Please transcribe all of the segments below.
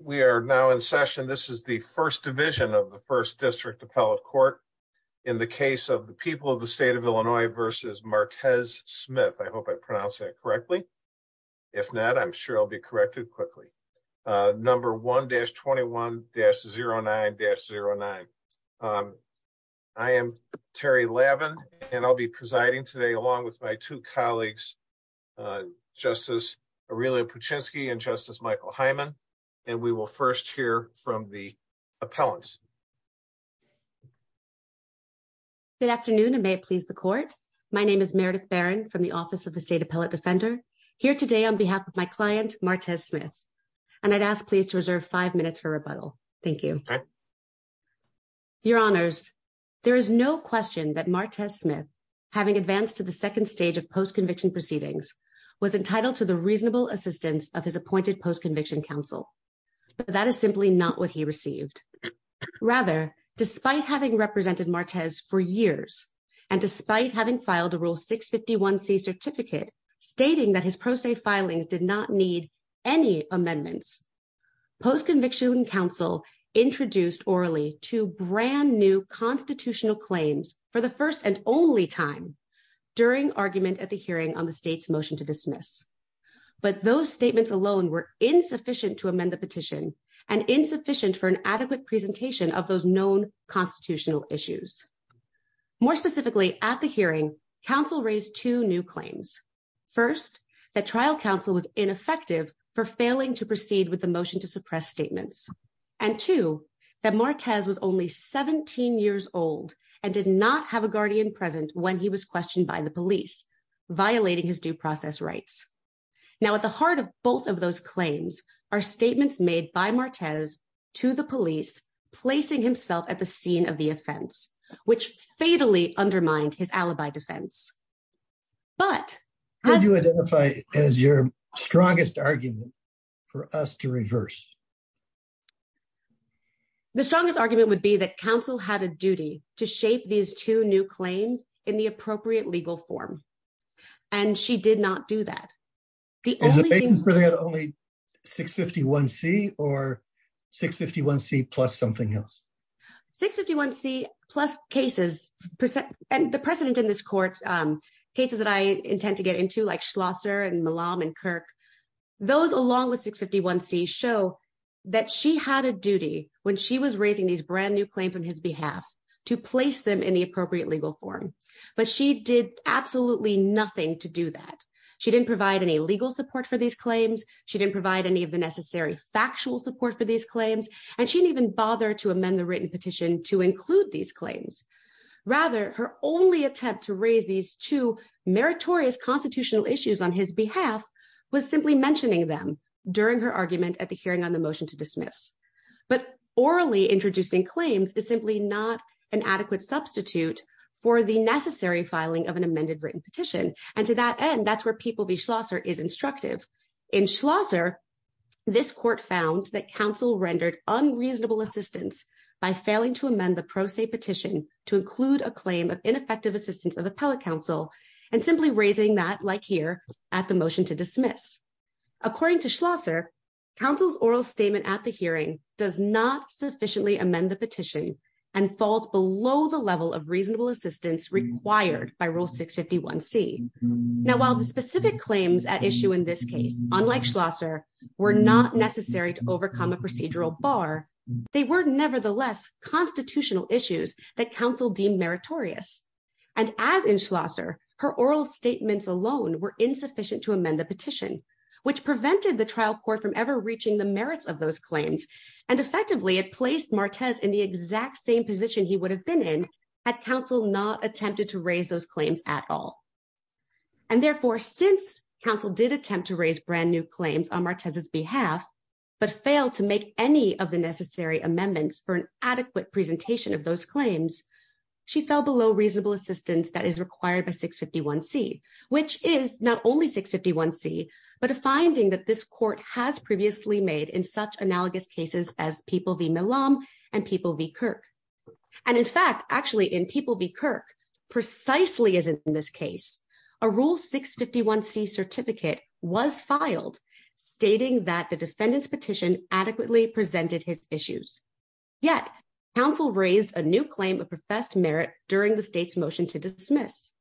We are now in session. This is the 1st division of the 1st district appellate court in the case of the people of the state of Illinois versus Martez Smith. I hope I pronounce that correctly. If not, I'm sure I'll be corrected quickly. Number 1 dash 21 dash 0 9 dash 0 9. I am Terry 11 and I'll be presiding today along with my 2 colleagues. Justice really, and justice Michael Hyman. And we will 1st, hear from the appellants. Good afternoon and may it please the court. My name is Meredith Baron from the office of the state appellate defender here today on behalf of my client, Martez Smith. And I'd ask, please to reserve 5 minutes for rebuttal. Thank you. Your honors, there is no question that Martez Smith. Having advanced to the 2nd stage of post conviction proceedings was entitled to the reasonable assistance of his appointed post conviction counsel. That is simply not what he received rather despite having represented for years. And despite having filed a rule 651 C certificate stating that his process filings did not need. Any amendments post conviction counsel introduced orally to brand new constitutional claims for the 1st and only time. During argument at the hearing on the state's motion to dismiss. But those statements alone were insufficient to amend the petition and insufficient for an adequate presentation of those known constitutional issues. More specifically at the hearing, council raised 2 new claims 1st, that trial council was ineffective for failing to proceed with the motion to suppress statements. And 2 that Martez was only 17 years old and did not have a guardian present when he was questioned by the police. Violating his due process rights now, at the heart of both of those claims are statements made by Martez to the police, placing himself at the scene of the offense, which fatally undermined his alibi defense. But how do you identify as your strongest argument? For us to reverse. The strongest argument would be that council had a duty to shape these 2 new claims in the appropriate legal form, and she did not do that. The only thing is where they had only 651 C or 651 C plus something else, 651 C plus cases and the precedent in this court cases that I intend to get into, like Schlosser and Malam and Kirk. Those along with 651 C show that she had a duty when she was raising these brand new claims on his behalf to place them in the appropriate legal form, but she did absolutely nothing to do that. She didn't provide any legal support for these claims. She didn't provide any of the necessary factual support for these claims, and she didn't even bother to amend the written petition to include these claims. Rather, her only attempt to raise these 2 meritorious constitutional issues on his behalf was simply mentioning them during her argument at the hearing on the motion to dismiss. But orally introducing claims is simply not an adequate substitute for the necessary filing of an amended written petition. And to that end, that's where people be Schlosser is instructive in Schlosser. This court found that council rendered unreasonable assistance by failing to amend the pro se petition to include a claim of ineffective assistance of appellate counsel and simply raising that, like here at the motion to dismiss. According to Schlosser counsel's oral statement at the hearing does not sufficiently amend the petition and falls below the level of reasonable assistance required by rule 651 C now, while the specific claims at issue in this case, unlike Schlosser. We're not necessary to overcome a procedural bar. They were nevertheless constitutional issues that council deem meritorious. And as in Schlosser her oral statements alone were insufficient to amend the petition, which prevented the trial court from ever reaching the merits of those claims. And effectively, it placed Marquez in the exact same position. He would have been in at council not attempted to raise those claims at all. And therefore, since council did attempt to raise brand new claims on Marquez's behalf, but fail to make any of the necessary amendments for an adequate presentation of those claims. She fell below reasonable assistance that is required by 651 C, which is not only 651 C, but a finding that this court has previously made in such analogous cases as people be Milan and people be Kirk. And, in fact, actually, in people be Kirk precisely as in this case, a rule 651 C certificate was filed stating that the defendant's petition adequately presented his issues. Yet, counsel raised a new claim of professed merit during the state's motion to dismiss.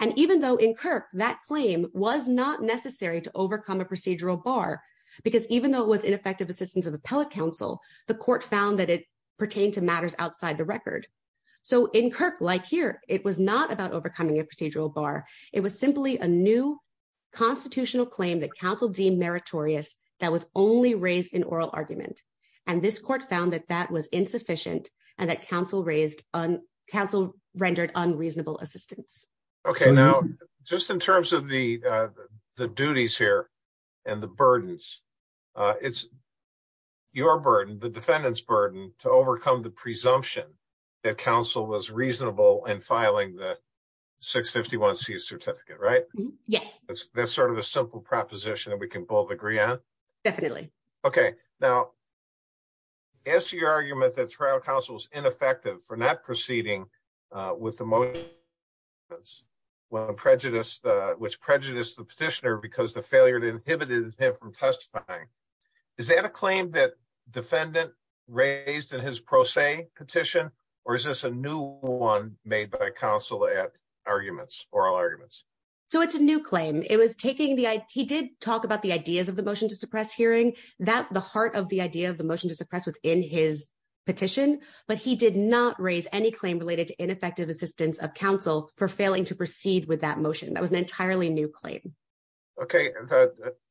And even though in Kirk that claim was not necessary to overcome a procedural bar, because even though it was ineffective assistance of appellate counsel, the court found that it pertained to matters outside the record. So, in Kirk, like here, it was not about overcoming a procedural bar. It was simply a new constitutional claim that counsel deem meritorious that was only raised in oral argument. And this court found that that was insufficient and that counsel raised on council rendered unreasonable assistance. Okay, now, just in terms of the duties here. And the burdens, it's your burden, the defendant's burden to overcome the presumption that counsel was reasonable and filing that. 651 C certificate, right? Yes, that's sort of a simple proposition that we can both agree on. Definitely. Okay. Now, as to your argument that trial counsel is ineffective for not proceeding with the most prejudice, which prejudice the petitioner, because the failure to inhibited him from testifying. Is that a claim that defendant raised in his pro se petition, or is this a new 1 made by counsel at arguments or arguments? So, it's a new claim. It was taking the, he did talk about the ideas of the motion to suppress hearing that the heart of the idea of the motion to suppress what's in his. Petition, but he did not raise any claim related to ineffective assistance of counsel for failing to proceed with that motion. That was an entirely new claim. Okay,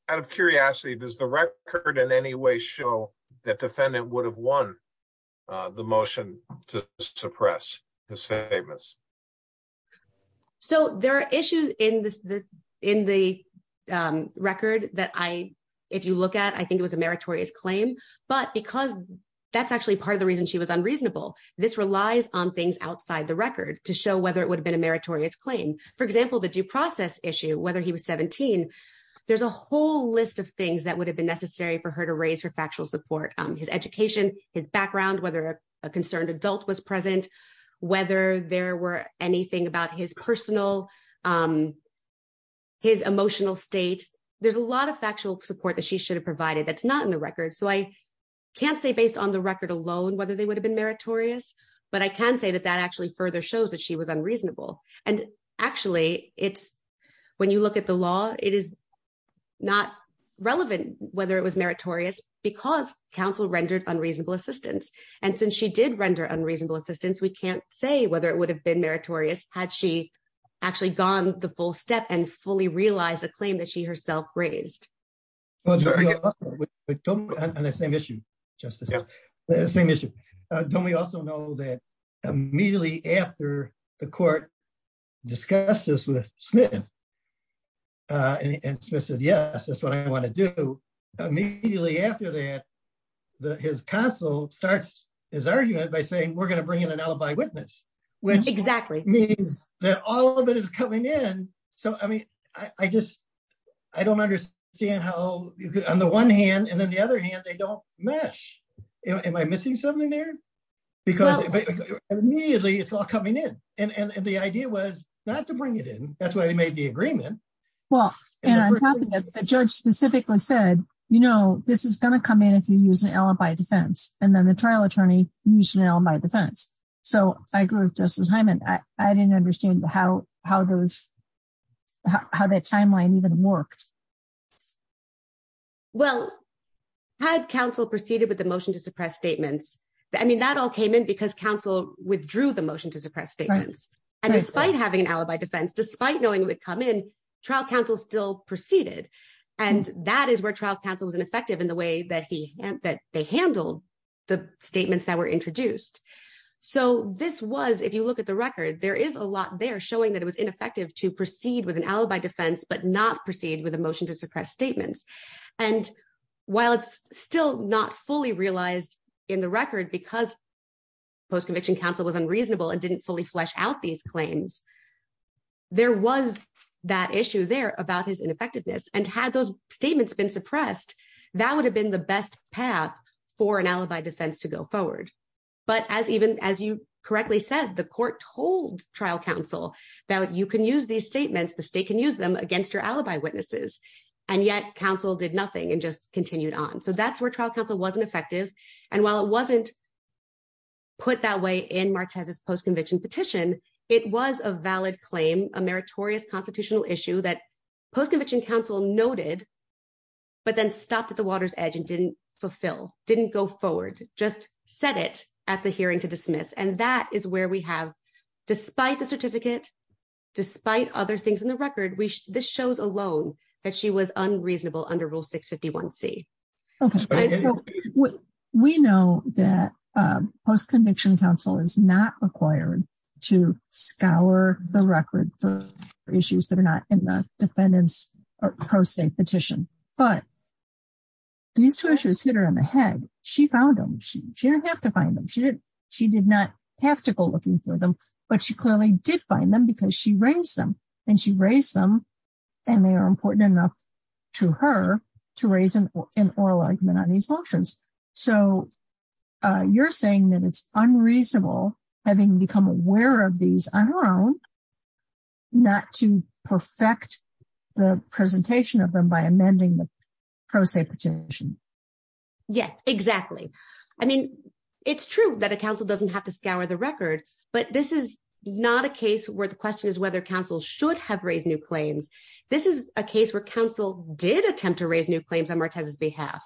out of curiosity, does the record in any way show that defendant would have won the motion to suppress the same as. So, there are issues in the record that I, if you look at, I think it was a meritorious claim, but because that's actually part of the reason she was unreasonable. This relies on things outside the record to show whether it would have been a meritorious claim. For example, the due process issue, whether he was 17. There's a whole list of things that would have been necessary for her to raise her factual support his education, his background, whether a concerned adult was present, whether there were anything about his personal. His emotional state, there's a lot of factual support that she should have provided. That's not in the record. So I. Can't say, based on the record alone, whether they would have been meritorious, but I can say that that actually further shows that she was unreasonable. And actually, it's. When you look at the law, it is not relevant, whether it was meritorious because counsel rendered unreasonable assistance. And since she did render unreasonable assistance, we can't say whether it would have been meritorious. Had she actually gone the full step and fully realize a claim that she herself raised. Well, The same issue, just the same issue. Don't we also know that immediately after the court discusses with Smith. And Smith said, yes, that's what I want to do. Immediately after that, his counsel starts his argument by saying, we're going to bring in an alibi witness. Which exactly means that all of it is coming in. So, I mean, I just, I don't understand how, on the one hand, and then the other hand, they don't mesh. Am I missing something there. Because immediately it's all coming in. And the idea was not to bring it in. That's why we made the agreement. Well, the judge specifically said, you know, this is going to come in. If you use an alibi defense, and then the trial attorney, you should know my defense. So I grew up just as Hyman. I didn't understand how, how those. How that timeline even worked. Well, had counsel proceeded with the motion to suppress statements. I mean, that all came in because counsel withdrew the motion to suppress statements and despite having an alibi defense, despite knowing would come in trial counsel still proceeded. And that is where trial counsel was an effective in the way that he that they handle the statements that were introduced. So, this was, if you look at the record, there is a lot there showing that it was ineffective to proceed with an alibi defense, but not proceed with emotion to suppress statements. And while it's still not fully realized in the record, because. Post conviction counsel was unreasonable and didn't fully flesh out these claims. There was that issue there about his ineffectiveness and had those statements been suppressed, that would have been the best path for an alibi defense to go forward. But as even as you correctly said, the court told trial counsel that you can use these statements. The state can use them against your alibi witnesses. And yet counsel did nothing and just continued on. So that's where trial counsel wasn't effective. And while it wasn't. Put that way in March has his post conviction petition. It was a valid claim a meritorious constitutional issue that post conviction counsel noted. But then stopped at the water's edge and didn't fulfill didn't go forward. Just set it at the hearing to dismiss. And that is where we have, despite the certificate. Despite other things in the record, we, this shows alone that she was unreasonable under rule 651 C. Okay, so we know that post conviction counsel is not required to scour the record for issues that are not in the defendants or pro state petition, but. These two issues hit her in the head. She found them. She didn't have to find them. She did. She did not have to go looking for them, but she clearly did find them because she raised them and she raised them. And they are important enough to her to raise an oral argument on these options. So you're saying that it's unreasonable having become aware of these on her own. Not to perfect the presentation of them by amending the pro se petition. Yes, exactly. I mean, it's true that a council doesn't have to scour the record, but this is not a case where the question is whether counsel should have raised new claims. This is a case where counsel did attempt to raise new claims on Martez's behalf.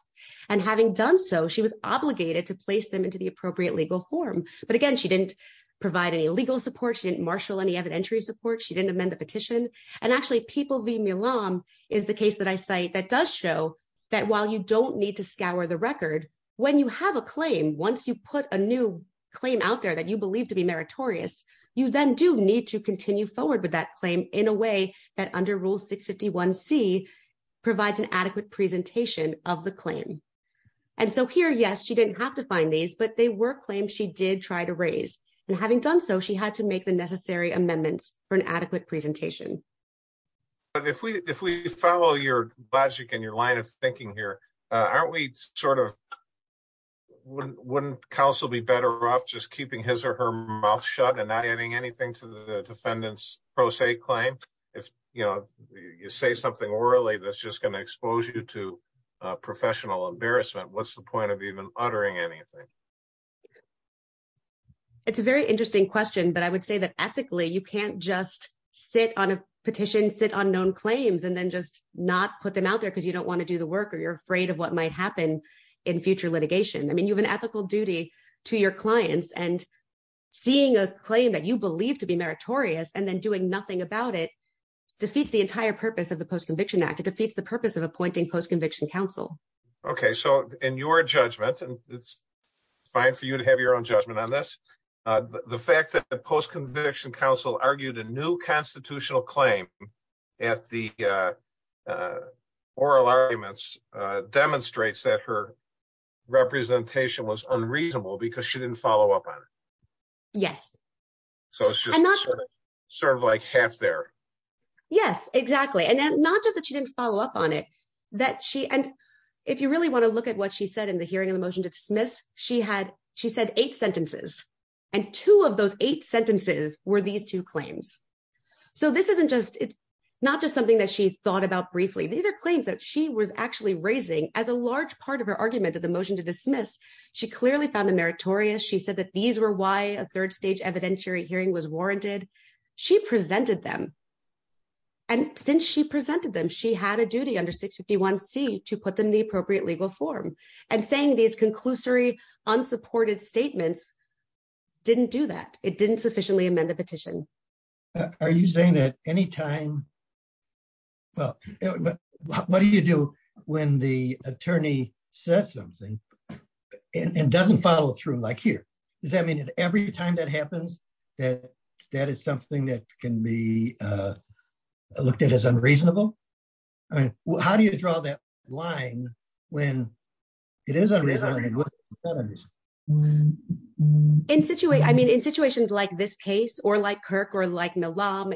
And having done so, she was obligated to place them into the appropriate legal form. But again, she didn't provide any legal support. She didn't marshal any evidentiary support. She didn't amend the petition. And actually, People v. Milan is the case that I cite that does show that while you don't need to scour the record, when you have a claim, once you put a new claim out there that you believe to be meritorious, you then do need to continue forward with that claim in a way that under Rule 651C provides an adequate presentation of the claim. And so here, yes, she didn't have to find these, but they were claims she did try to raise. And having done so, she had to make the necessary amendments for an adequate presentation. But if we if we follow your logic and your line of thinking here, aren't we sort of wouldn't counsel be better off just keeping his or her mouth shut and not adding anything to the defendant's pro se claim? If, you know, you say something orally, that's just going to expose you to professional embarrassment. What's the point of even uttering anything? It's a very interesting question. But I would say that ethically, you can't just sit on a petition, sit on known claims, and then just not put them out there because you don't want to do the work or you're afraid of what might happen in future litigation. I mean, you have an ethical duty to your clients and seeing a claim that you believe to be meritorious and then doing nothing about it defeats the entire purpose of the Post-Conviction Act. It defeats the purpose of appointing post-conviction counsel. Okay, so in your judgment, and it's fine for you to have your own judgment on this, the fact that the post-conviction counsel argued a new constitutional claim at the trial demonstrates that her representation was unreasonable because she didn't follow up on it. Yes. So it's just sort of like half there. Yes, exactly. And not just that she didn't follow up on it, and if you really want to look at what she said in the hearing of the motion to dismiss, she said eight sentences. And two of those eight sentences were these two claims. So this isn't just, it's not just something that she thought about briefly. These are claims that she was actually raising as a large part of her argument of the motion to dismiss. She clearly found them meritorious. She said that these were why a third stage evidentiary hearing was warranted. She presented them. And since she presented them, she had a duty under 651C to put them in the appropriate legal form. And saying these conclusory, unsupported statements didn't do that. It didn't sufficiently amend the petition. Are you saying that any time, well, what do you do when the attorney says something and doesn't follow through like here? Does that mean that every time that happens, that that is something that can be looked at as unreasonable? I mean, how do you draw that line when it is unreasonable? I mean, in situations like this case or like Kirk or like Milam,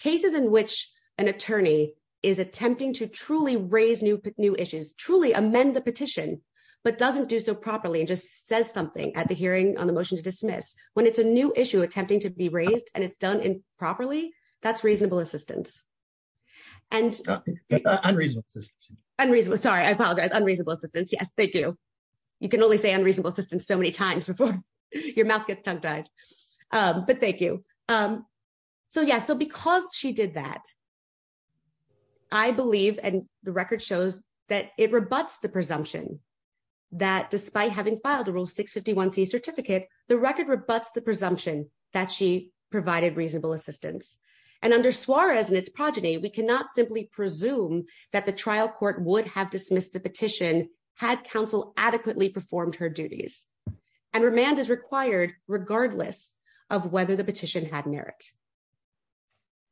cases in which an attorney is attempting to truly raise new issues, truly amend the petition, but doesn't do so properly and just says something at the hearing on the motion to dismiss. When it's a new issue attempting to be raised and it's done improperly, that's reasonable assistance. And unreasonable, sorry, I apologize. Unreasonable assistance. Yes, thank you. You can only say unreasonable assistance so many times before your mouth gets tongue-tied. But thank you. So yeah, so because she did that, I believe, and the record shows that it rebutts the presumption that despite having filed the rule 651C certificate, the record rebutts the we cannot simply presume that the trial court would have dismissed the petition had counsel adequately performed her duties. And remand is required regardless of whether the petition had merit.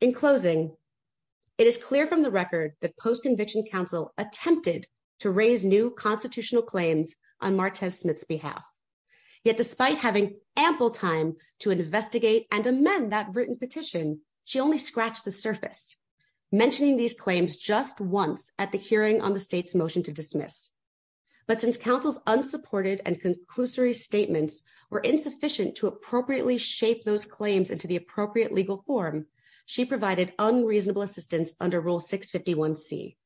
In closing, it is clear from the record that post-conviction counsel attempted to raise new constitutional claims on Martez Smith's behalf. Yet despite having ample time to mention these claims just once at the hearing on the state's motion to dismiss. But since counsel's unsupported and conclusory statements were insufficient to appropriately shape those claims into the appropriate legal form, she provided unreasonable assistance under Rule 651C.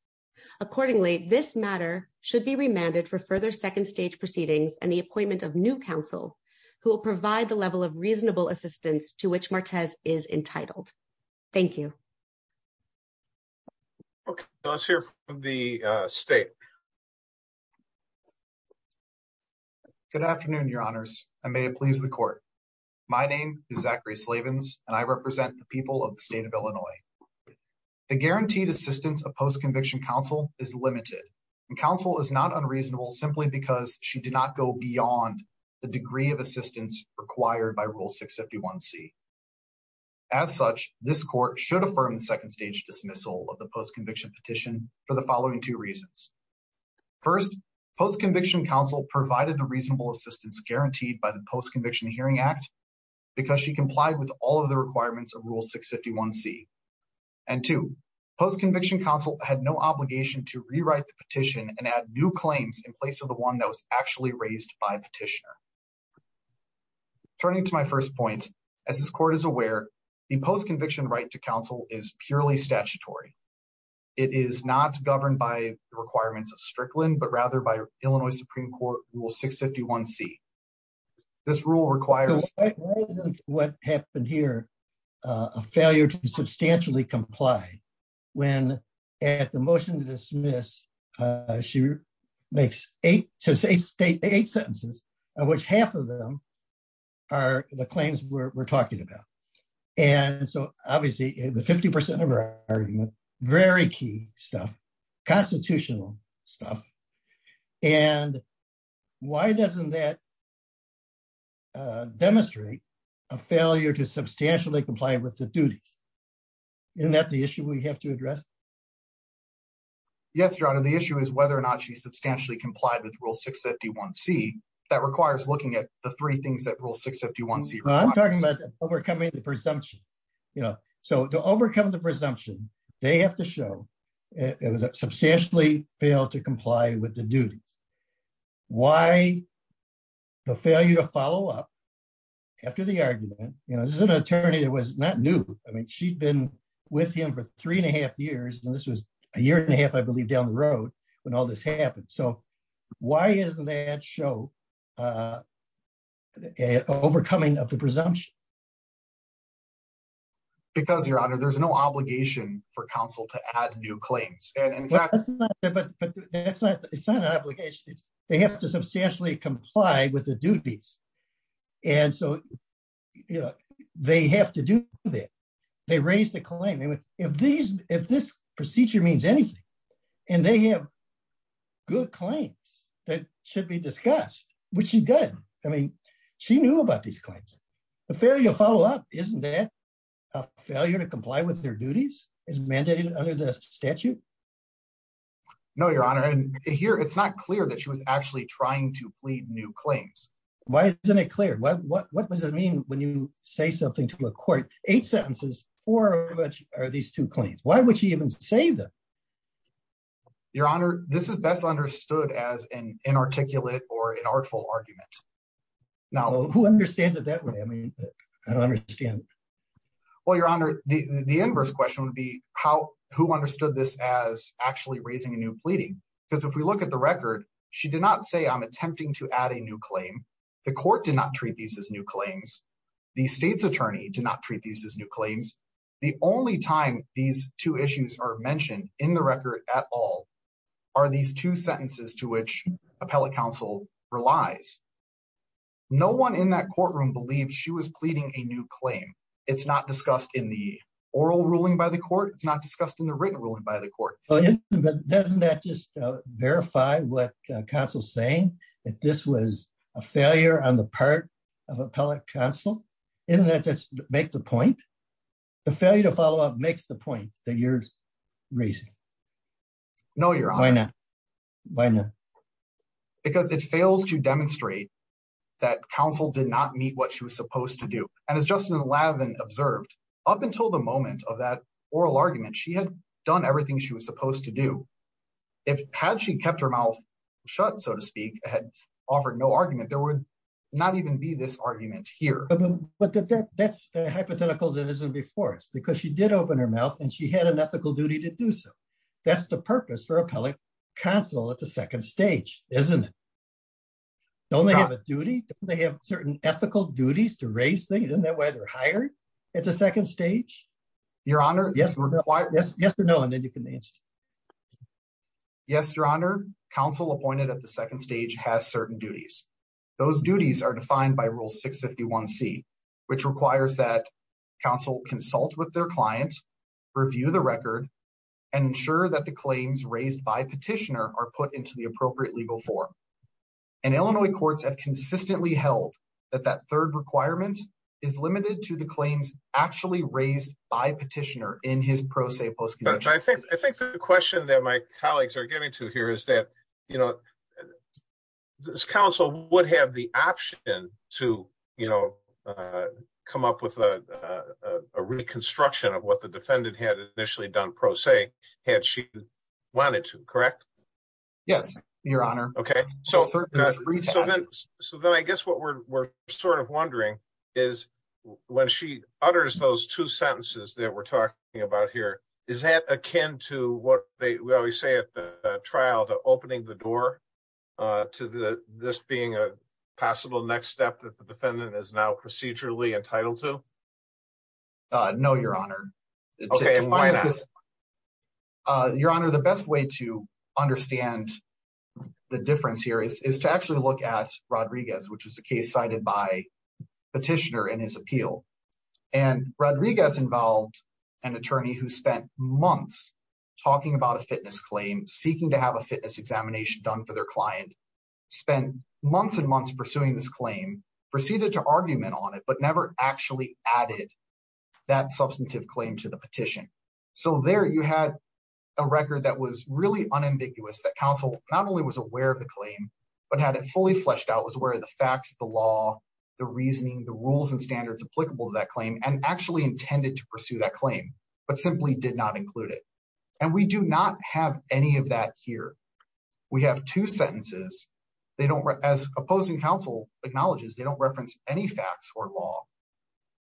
Accordingly, this matter should be remanded for further second stage proceedings and the appointment of new counsel who will provide the level of reasonable assistance to which Martez is entitled. Thank you. Okay, let's hear from the state. Good afternoon, your honors. I may please the court. My name is Zachary Slavins and I represent the people of the state of Illinois. The guaranteed assistance of post-conviction counsel is limited. Counsel is not unreasonable simply because she did not go beyond the degree of assistance required by Rule 651C. As such, this court should affirm the second stage dismissal of the post-conviction petition for the following two reasons. First, post-conviction counsel provided the reasonable assistance guaranteed by the Post-Conviction Hearing Act because she complied with all of the requirements of Rule 651C. And two, post-conviction counsel had no obligation to rewrite the petition and add new claims in place of the one that was actually raised by the petitioner. Turning to my first point, as this court is aware, the post-conviction right to counsel is purely statutory. It is not governed by the requirements of Strickland but rather by Illinois Supreme Court Rule 651C. This rule requires... What happened here, a failure to which half of them are the claims we're talking about. And so obviously the 50% of our argument, very key stuff, constitutional stuff. And why doesn't that demonstrate a failure to substantially comply with the duties? Isn't that the issue we have to address? Yes, Your Honor. The issue is not whether or not she substantially complied with Rule 651C. That requires looking at the three things that Rule 651C requires. I'm talking about overcoming the presumption. So to overcome the presumption, they have to show it was a substantially failed to comply with the duties. Why the failure to follow up after the argument? This is an attorney that was not new. I mean, she'd been with him for three and a half years. And this was a year and a half, I believe, down the road when all this happened. So why doesn't that show overcoming of the presumption? Because, Your Honor, there's no obligation for counsel to add new claims. It's not an obligation. They have to substantially comply with the duties. And so they have to do that. They raised a claim. If this procedure means anything, and they have good claims that should be discussed, which is good. I mean, she knew about these claims. The failure to follow up, isn't that a failure to comply with their duties as mandated under the statute? No, Your Honor. And here, it's not clear that she was actually trying to plead new claims. Why isn't it clear? What does it mean when you say something to a court? Eight sentences, four of which are these two claims? Why would she even say that? Your Honor, this is best understood as an inarticulate or an artful argument. Now, who understands it that way? I mean, I don't understand. Well, Your Honor, the inverse question would be who understood this as actually raising a plea? Because if we look at the record, she did not say I'm attempting to add a new claim. The court did not treat these as new claims. The state's attorney did not treat these as new claims. The only time these two issues are mentioned in the record at all are these two sentences to which appellate counsel relies. No one in that courtroom believes she was pleading a new claim. It's not discussed in the oral ruling by the court. It's not discussed in the written ruling by the court. But doesn't that just verify what counsel is saying, that this was a failure on the part of appellate counsel? Doesn't that just make the point? The failure to follow up makes the point that you're raising. No, Your Honor. Why not? Why not? Because it fails to demonstrate that counsel did not meet what she was supposed to do. And as Justin Lavin observed, up until the moment of that oral argument, she had done everything she was supposed to do. Had she kept her mouth shut, so to speak, had offered no argument, there would not even be this argument here. But that's a hypothetical that isn't before us, because she did open her mouth and she had an ethical duty to do so. That's the purpose for appellate counsel at the second stage, isn't it? Don't they have a duty? Don't they have certain ethical duties to raise things? Isn't that why they're hired at the second stage? Your Honor? Yes or no, and then you can answer. Yes, Your Honor. Counsel appointed at the second stage has certain duties. Those duties are defined by Rule 651C, which requires that counsel consult with their client, review the record, and ensure that the claims raised by petitioner are put into the appropriate legal form. And Illinois courts have consistently held that that third requirement is limited to the claims actually raised by petitioner in his pro se post-conviction case. I think the question that my colleagues are getting to here is that, you know, this counsel would have the option to, you know, come up with a reconstruction of what the defendant had initially done pro se had she wanted to, correct? Yes, Your Honor. Okay, so then I guess what we're sort of wondering is when she utters those two sentences that we're talking about here, is that akin to what they always say at the trial, the opening the door to this being a possible next step that is now procedurally entitled to? No, Your Honor. Your Honor, the best way to understand the difference here is to actually look at Rodriguez, which was a case cited by petitioner in his appeal. And Rodriguez involved an attorney who spent months talking about a fitness claim, seeking to have a fitness examination done for their client, spent months and months pursuing this claim, proceeded to argument on it, but never actually added that substantive claim to the petition. So there you had a record that was really unambiguous, that counsel not only was aware of the claim, but had it fully fleshed out, was aware of the facts, the law, the reasoning, the rules and standards applicable to that claim, and actually intended to pursue that claim, but simply did not include it. And we do not have any of that here. We have two sentences, they don't, as opposing counsel acknowledges, they don't reference any facts or law.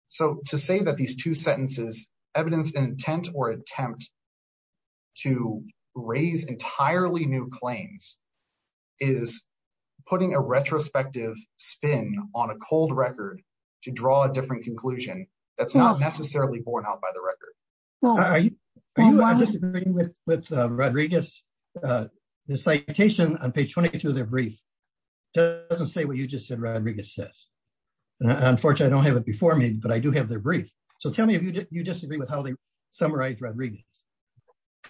So to say that these two sentences, evidence and intent or attempt to raise entirely new claims is putting a retrospective spin on a cold record to draw a different conclusion that's not page 22 of their brief doesn't say what you just said Rodriguez says. Unfortunately, I don't have it before me, but I do have their brief. So tell me if you disagree with how they summarize Rodriguez.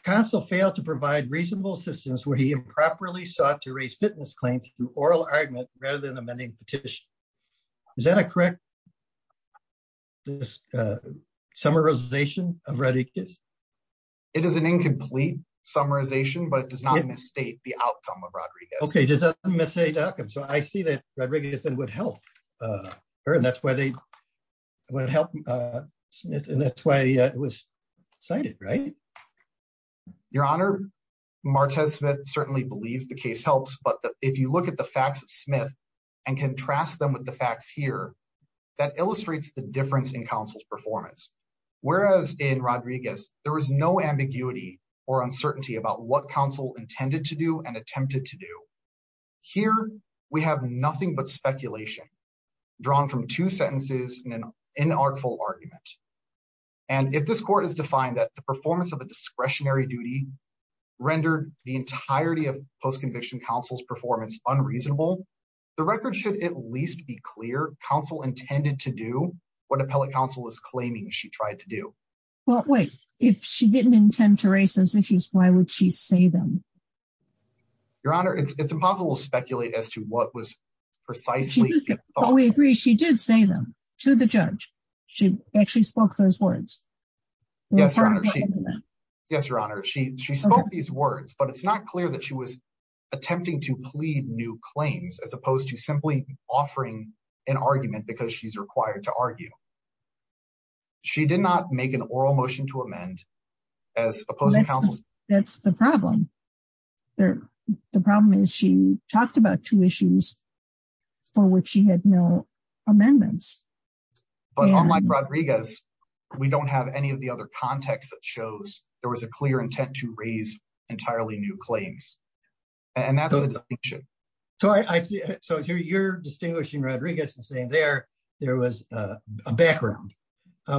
Counsel failed to provide reasonable assistance where he improperly sought to raise fitness claims through oral argument rather than amending petition. Is that a correct summarization of Rodriguez? It is an incomplete summarization, but it does not misstate the Okay, does that miss a duck? And so I see that Rodriguez then would help her and that's where they would help. And that's why it was cited, right? Your Honor, Martez Smith certainly believes the case helps. But if you look at the facts of Smith, and contrast them with the facts here, that illustrates the difference in counsel's performance. Whereas in Rodriguez, there was no ambiguity or uncertainty about what counsel intended to do and attempted to do. Here, we have nothing but speculation, drawn from two sentences in an inartful argument. And if this court is defined that the performance of a discretionary duty rendered the entirety of post conviction counsel's performance unreasonable, the record should at least be clear counsel intended to do what appellate counsel is claiming she tried to do. Well, wait, if she didn't intend to raise those issues, why would she say them? Your Honor, it's impossible to speculate as to what was precisely what we agree she did say them to the judge. She actually spoke those words. Yes, Your Honor. Yes, Your Honor. She she spoke these words, but it's not clear that she was attempting to plead new claims as opposed to oral motion to amend as opposed to counsel. That's the problem. The problem is she talked about two issues for which she had no amendments. But unlike Rodriguez, we don't have any of the other context that shows there was a clear intent to raise entirely new claims. And that's so I see. So you're distinguishing Rodriguez and saying there, there was a background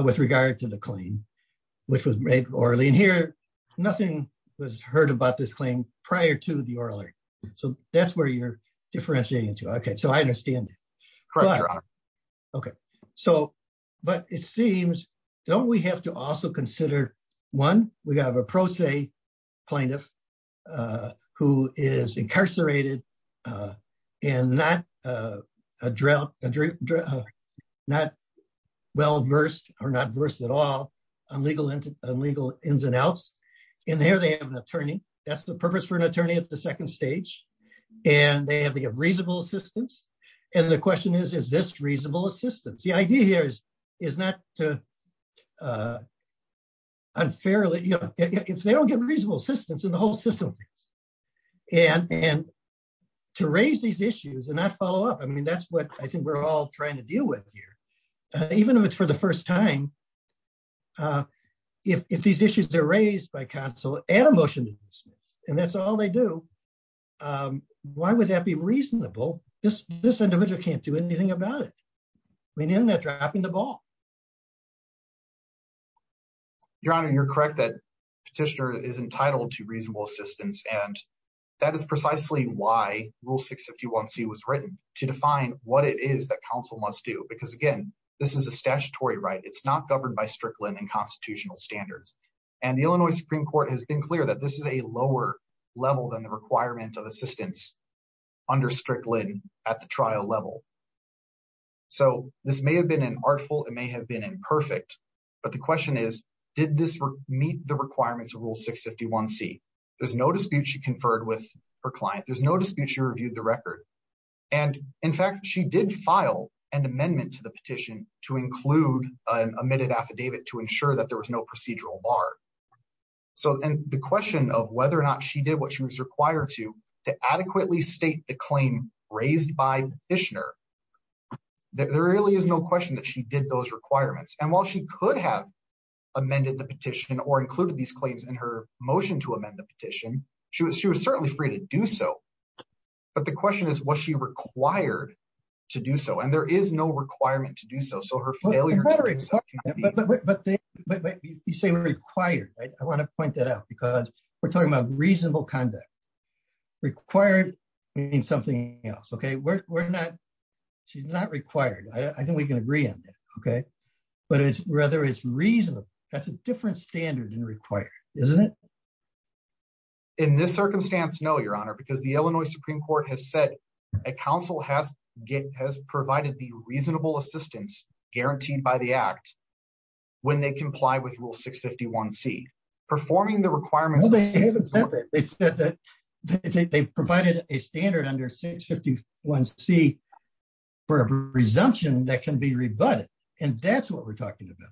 with regard to the claim, which was made or lean here. Nothing was heard about this claim prior to the oral. So that's where you're differentiating to Okay, so I understand. Okay, so, but it seems, don't we have to also consider one, we have a pro se plaintiff, who is incarcerated, and not drought, not well versed or not versed at all on legal and legal ins and outs. And here they have an attorney, that's the purpose for an attorney at the second stage. And they have the reasonable assistance. And the question is, is this reasonable assistance? The idea here is, is not to unfairly, if they don't get reasonable assistance in the whole system. And and to raise these issues and not follow up. I mean, that's what I think we're all trying to deal with here. Even if it's for the first time. If these issues are raised by Council, add a motion to dismiss, and that's all they do. Why would that be reasonable? This, this individual can't do anything about it. We know that dropping the ball. Your Honor, you're correct that petitioner is entitled to reasonable assistance. And that is precisely why Rule 651 C was written to define what it is that Council must do. Because again, this is a statutory right, it's not governed by Strickland and constitutional standards. And the Illinois Supreme Court has been clear that this is a lower level than the requirement of assistance under Strickland at the trial level. So this may have been an artful, it may have been imperfect. But the question is, did this meet the requirements of Rule 651 C, there's no dispute, she conferred with her client, there's no dispute, she reviewed the record. And in fact, she did file an amendment to the petition to include an omitted affidavit to ensure that there was no procedural bar. So and the question of whether or not she did what she was required to adequately state the requirements. And while she could have amended the petition or included these claims in her motion to amend the petition, she was she was certainly free to do so. But the question is, was she required to do so? And there is no requirement to do so. So her failure... But you say required, right? I want to point that out, because we're talking about reasonable conduct. Required means something else, okay? We're not, she's not required. I think we can agree on that. Okay. But it's rather, it's reasonable. That's a different standard than required, isn't it? In this circumstance, no, Your Honor, because the Illinois Supreme Court has said a counsel has provided the reasonable assistance guaranteed by the Act when they comply with Rule 651 C. Performing the requirements... Well, they haven't said that. They said that they provided a standard under 651 C for a resumption that can be rebutted. And that's what we're talking about.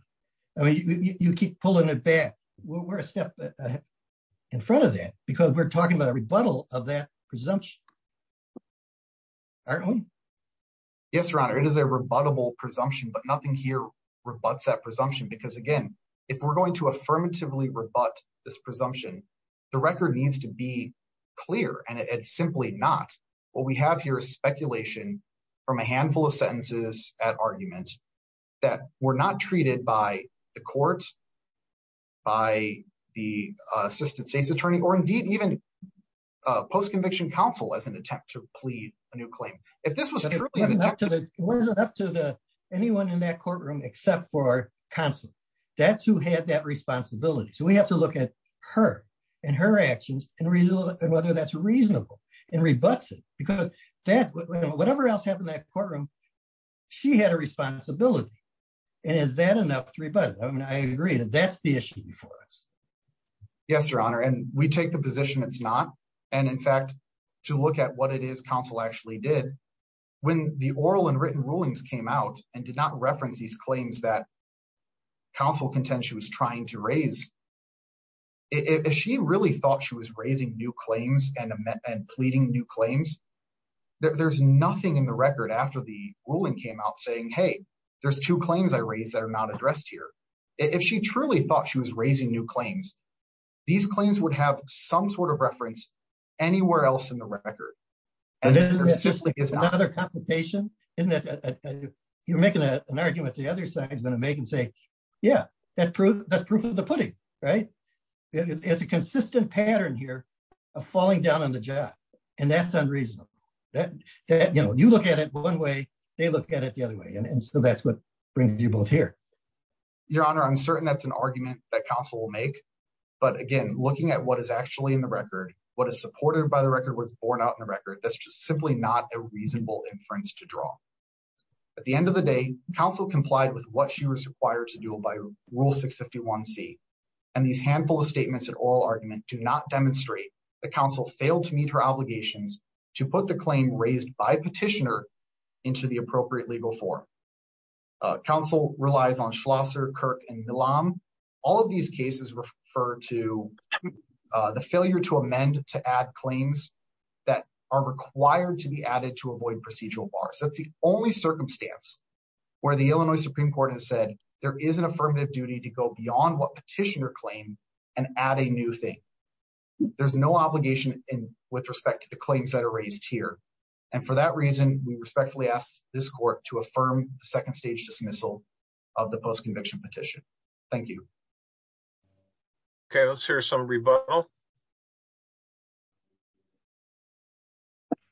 I mean, you keep pulling it back. We're a step in front of that, because we're talking about a rebuttal of that presumption. Aren't we? Yes, Your Honor. It is a rebuttable presumption, but nothing here rebuts that presumption. Because if we're going to affirmatively rebut this presumption, the record needs to be clear, and it's simply not. What we have here is speculation from a handful of sentences at argument that were not treated by the court, by the assistant state's attorney, or indeed even post-conviction counsel as an attempt to plead a new claim. If this was truly an attempt to... It wasn't up to anyone in that courtroom except for counsel. That's who had that responsibility. So we have to look at her and her actions and whether that's reasonable and rebuts it, because whatever else happened in that courtroom, she had a responsibility. And is that enough to rebut it? I mean, I agree that that's the issue before us. Yes, Your Honor. And we take the position it's not. And in fact, to look at what it is counsel actually did, when the oral and written rulings came out and did not reference these claims that counsel contends she was trying to raise, if she really thought she was raising new claims and pleading new claims, there's nothing in the record after the ruling came out saying, hey, there's two claims I raised that are not addressed here. If she truly thought she was raising new claims, these claims would have some sort of reference anywhere else in the record. And then there's another computation, isn't it? You're making an argument the other side is going to make and say, yeah, that's proof of the pudding, right? It's a consistent pattern here of falling down on the job. And that's unreasonable. You look at it one way, they look at it the other way. And so that's what brings you both here. Your Honor, I'm certain that's an argument that counsel will make. But again, looking at what is in the record, what is supported by the record, what's borne out in the record, that's just simply not a reasonable inference to draw. At the end of the day, counsel complied with what she was required to do by Rule 651C. And these handful of statements and oral argument do not demonstrate that counsel failed to meet her obligations to put the claim raised by petitioner into the appropriate legal form. Counsel relies on Schlosser, Kirk, and Millam. All of these cases refer to the failure to amend to add claims that are required to be added to avoid procedural bars. That's the only circumstance where the Illinois Supreme Court has said there is an affirmative duty to go beyond what petitioner claim and add a new thing. There's no obligation in with respect to the claims that are raised here. And for that reason, we respectfully ask this court to affirm the second stage dismissal of the post-conviction petition. Thank you. Okay, let's hear some rebuttal.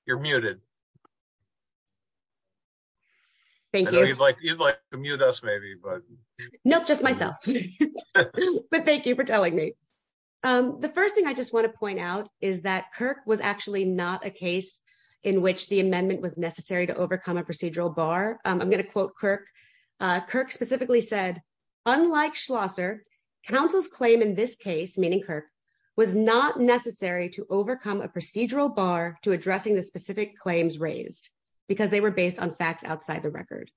You're muted. Thank you. I know you'd like to mute us maybe, but... Nope, just myself. But thank you for telling me. The first thing I just want to point out is that Kirk was actually not a case in which the amendment was necessary to overcome a procedural bar. I'm going to quote Kirk. Kirk specifically said, unlike Schlosser, counsel's claim in this case, meaning Kirk, was not necessary to overcome a procedural bar to addressing the specific claims raised because they were based on facts outside the record.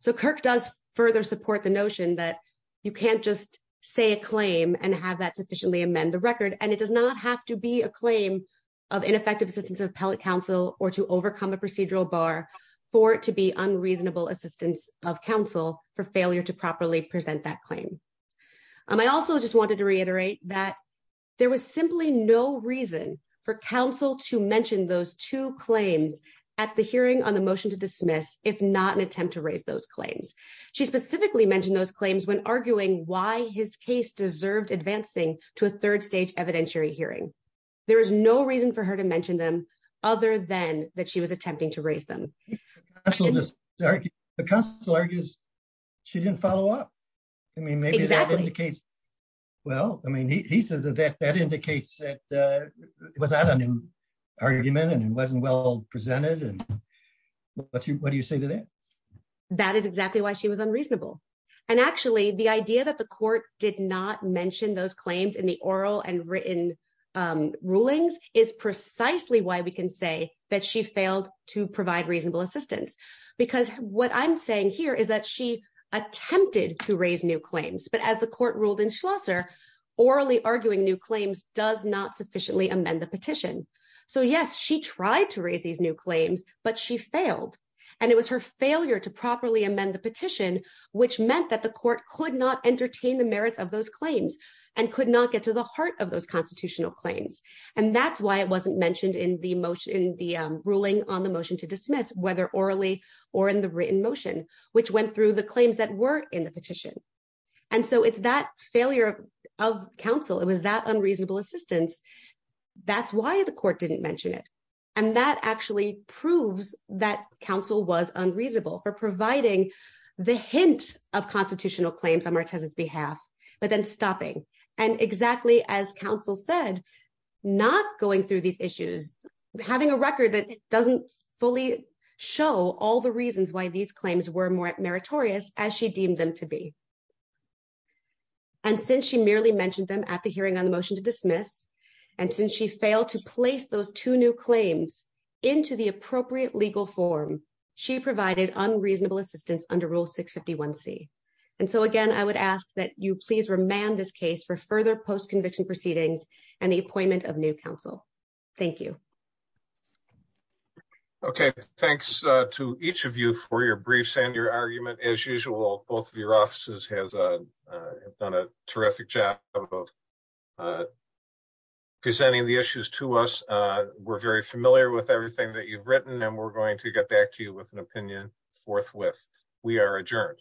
So Kirk does further support the notion that you can't just say a claim and have that sufficiently amend the record. And it does not have to be a claim of ineffective assistance of appellate counsel or to overcome a procedural bar for it to be unreasonable assistance of counsel for failure to properly present that claim. I also just wanted to reiterate that there was simply no reason for counsel to mention those two claims at the hearing on the motion to dismiss, if not an attempt to raise those claims. She specifically mentioned those claims when arguing why his case deserved advancing to a third stage evidentiary hearing. There is no reason for her to mention them other than that she was attempting to raise them. The counsel argues she didn't follow up. I mean, maybe that indicates, well, I mean, he says that that indicates that it was not a new argument and it wasn't well presented. And what do you say to that? That is exactly why she was unreasonable. And actually, the idea that the court did not mention those claims in the oral and written rulings is precisely why we can say that she failed to provide reasonable assistance, because what I'm saying here is that she attempted to raise new claims. But as the court ruled in Schlosser, orally arguing new claims does not sufficiently amend the petition. So, yes, she tried to raise these new claims, but she failed. And it was her failure to properly amend the petition, which meant that the court could not entertain the merits of those claims and could not get to the heart of those constitutional claims. And that's why it wasn't mentioned in the motion, in the ruling on the motion to dismiss, whether orally or in the written motion, which went through the claims that were in the petition. And so it's that failure of counsel. It was that unreasonable assistance. That's why the court didn't mention it. And that actually proves that counsel was unreasonable for providing the hint of constitutional claims on Martese's behalf, but then stopping. And exactly as counsel said, not going through these issues, having a record that doesn't fully show all the reasons why these claims were more meritorious as she deemed them to be. And since she merely mentioned them at the hearing on the motion to dismiss, and since she failed to place those two new claims into the appropriate legal form, she provided unreasonable assistance under Rule 651C. And so again, I would ask that you please remand this case for further post-conviction proceedings and the appointment of new counsel. Thank you. Okay, thanks to each of you for your briefs and your argument. As usual, both of your offices have done a terrific job of presenting the issues to us. We're very familiar with everything that we are dealing with. We are adjourned.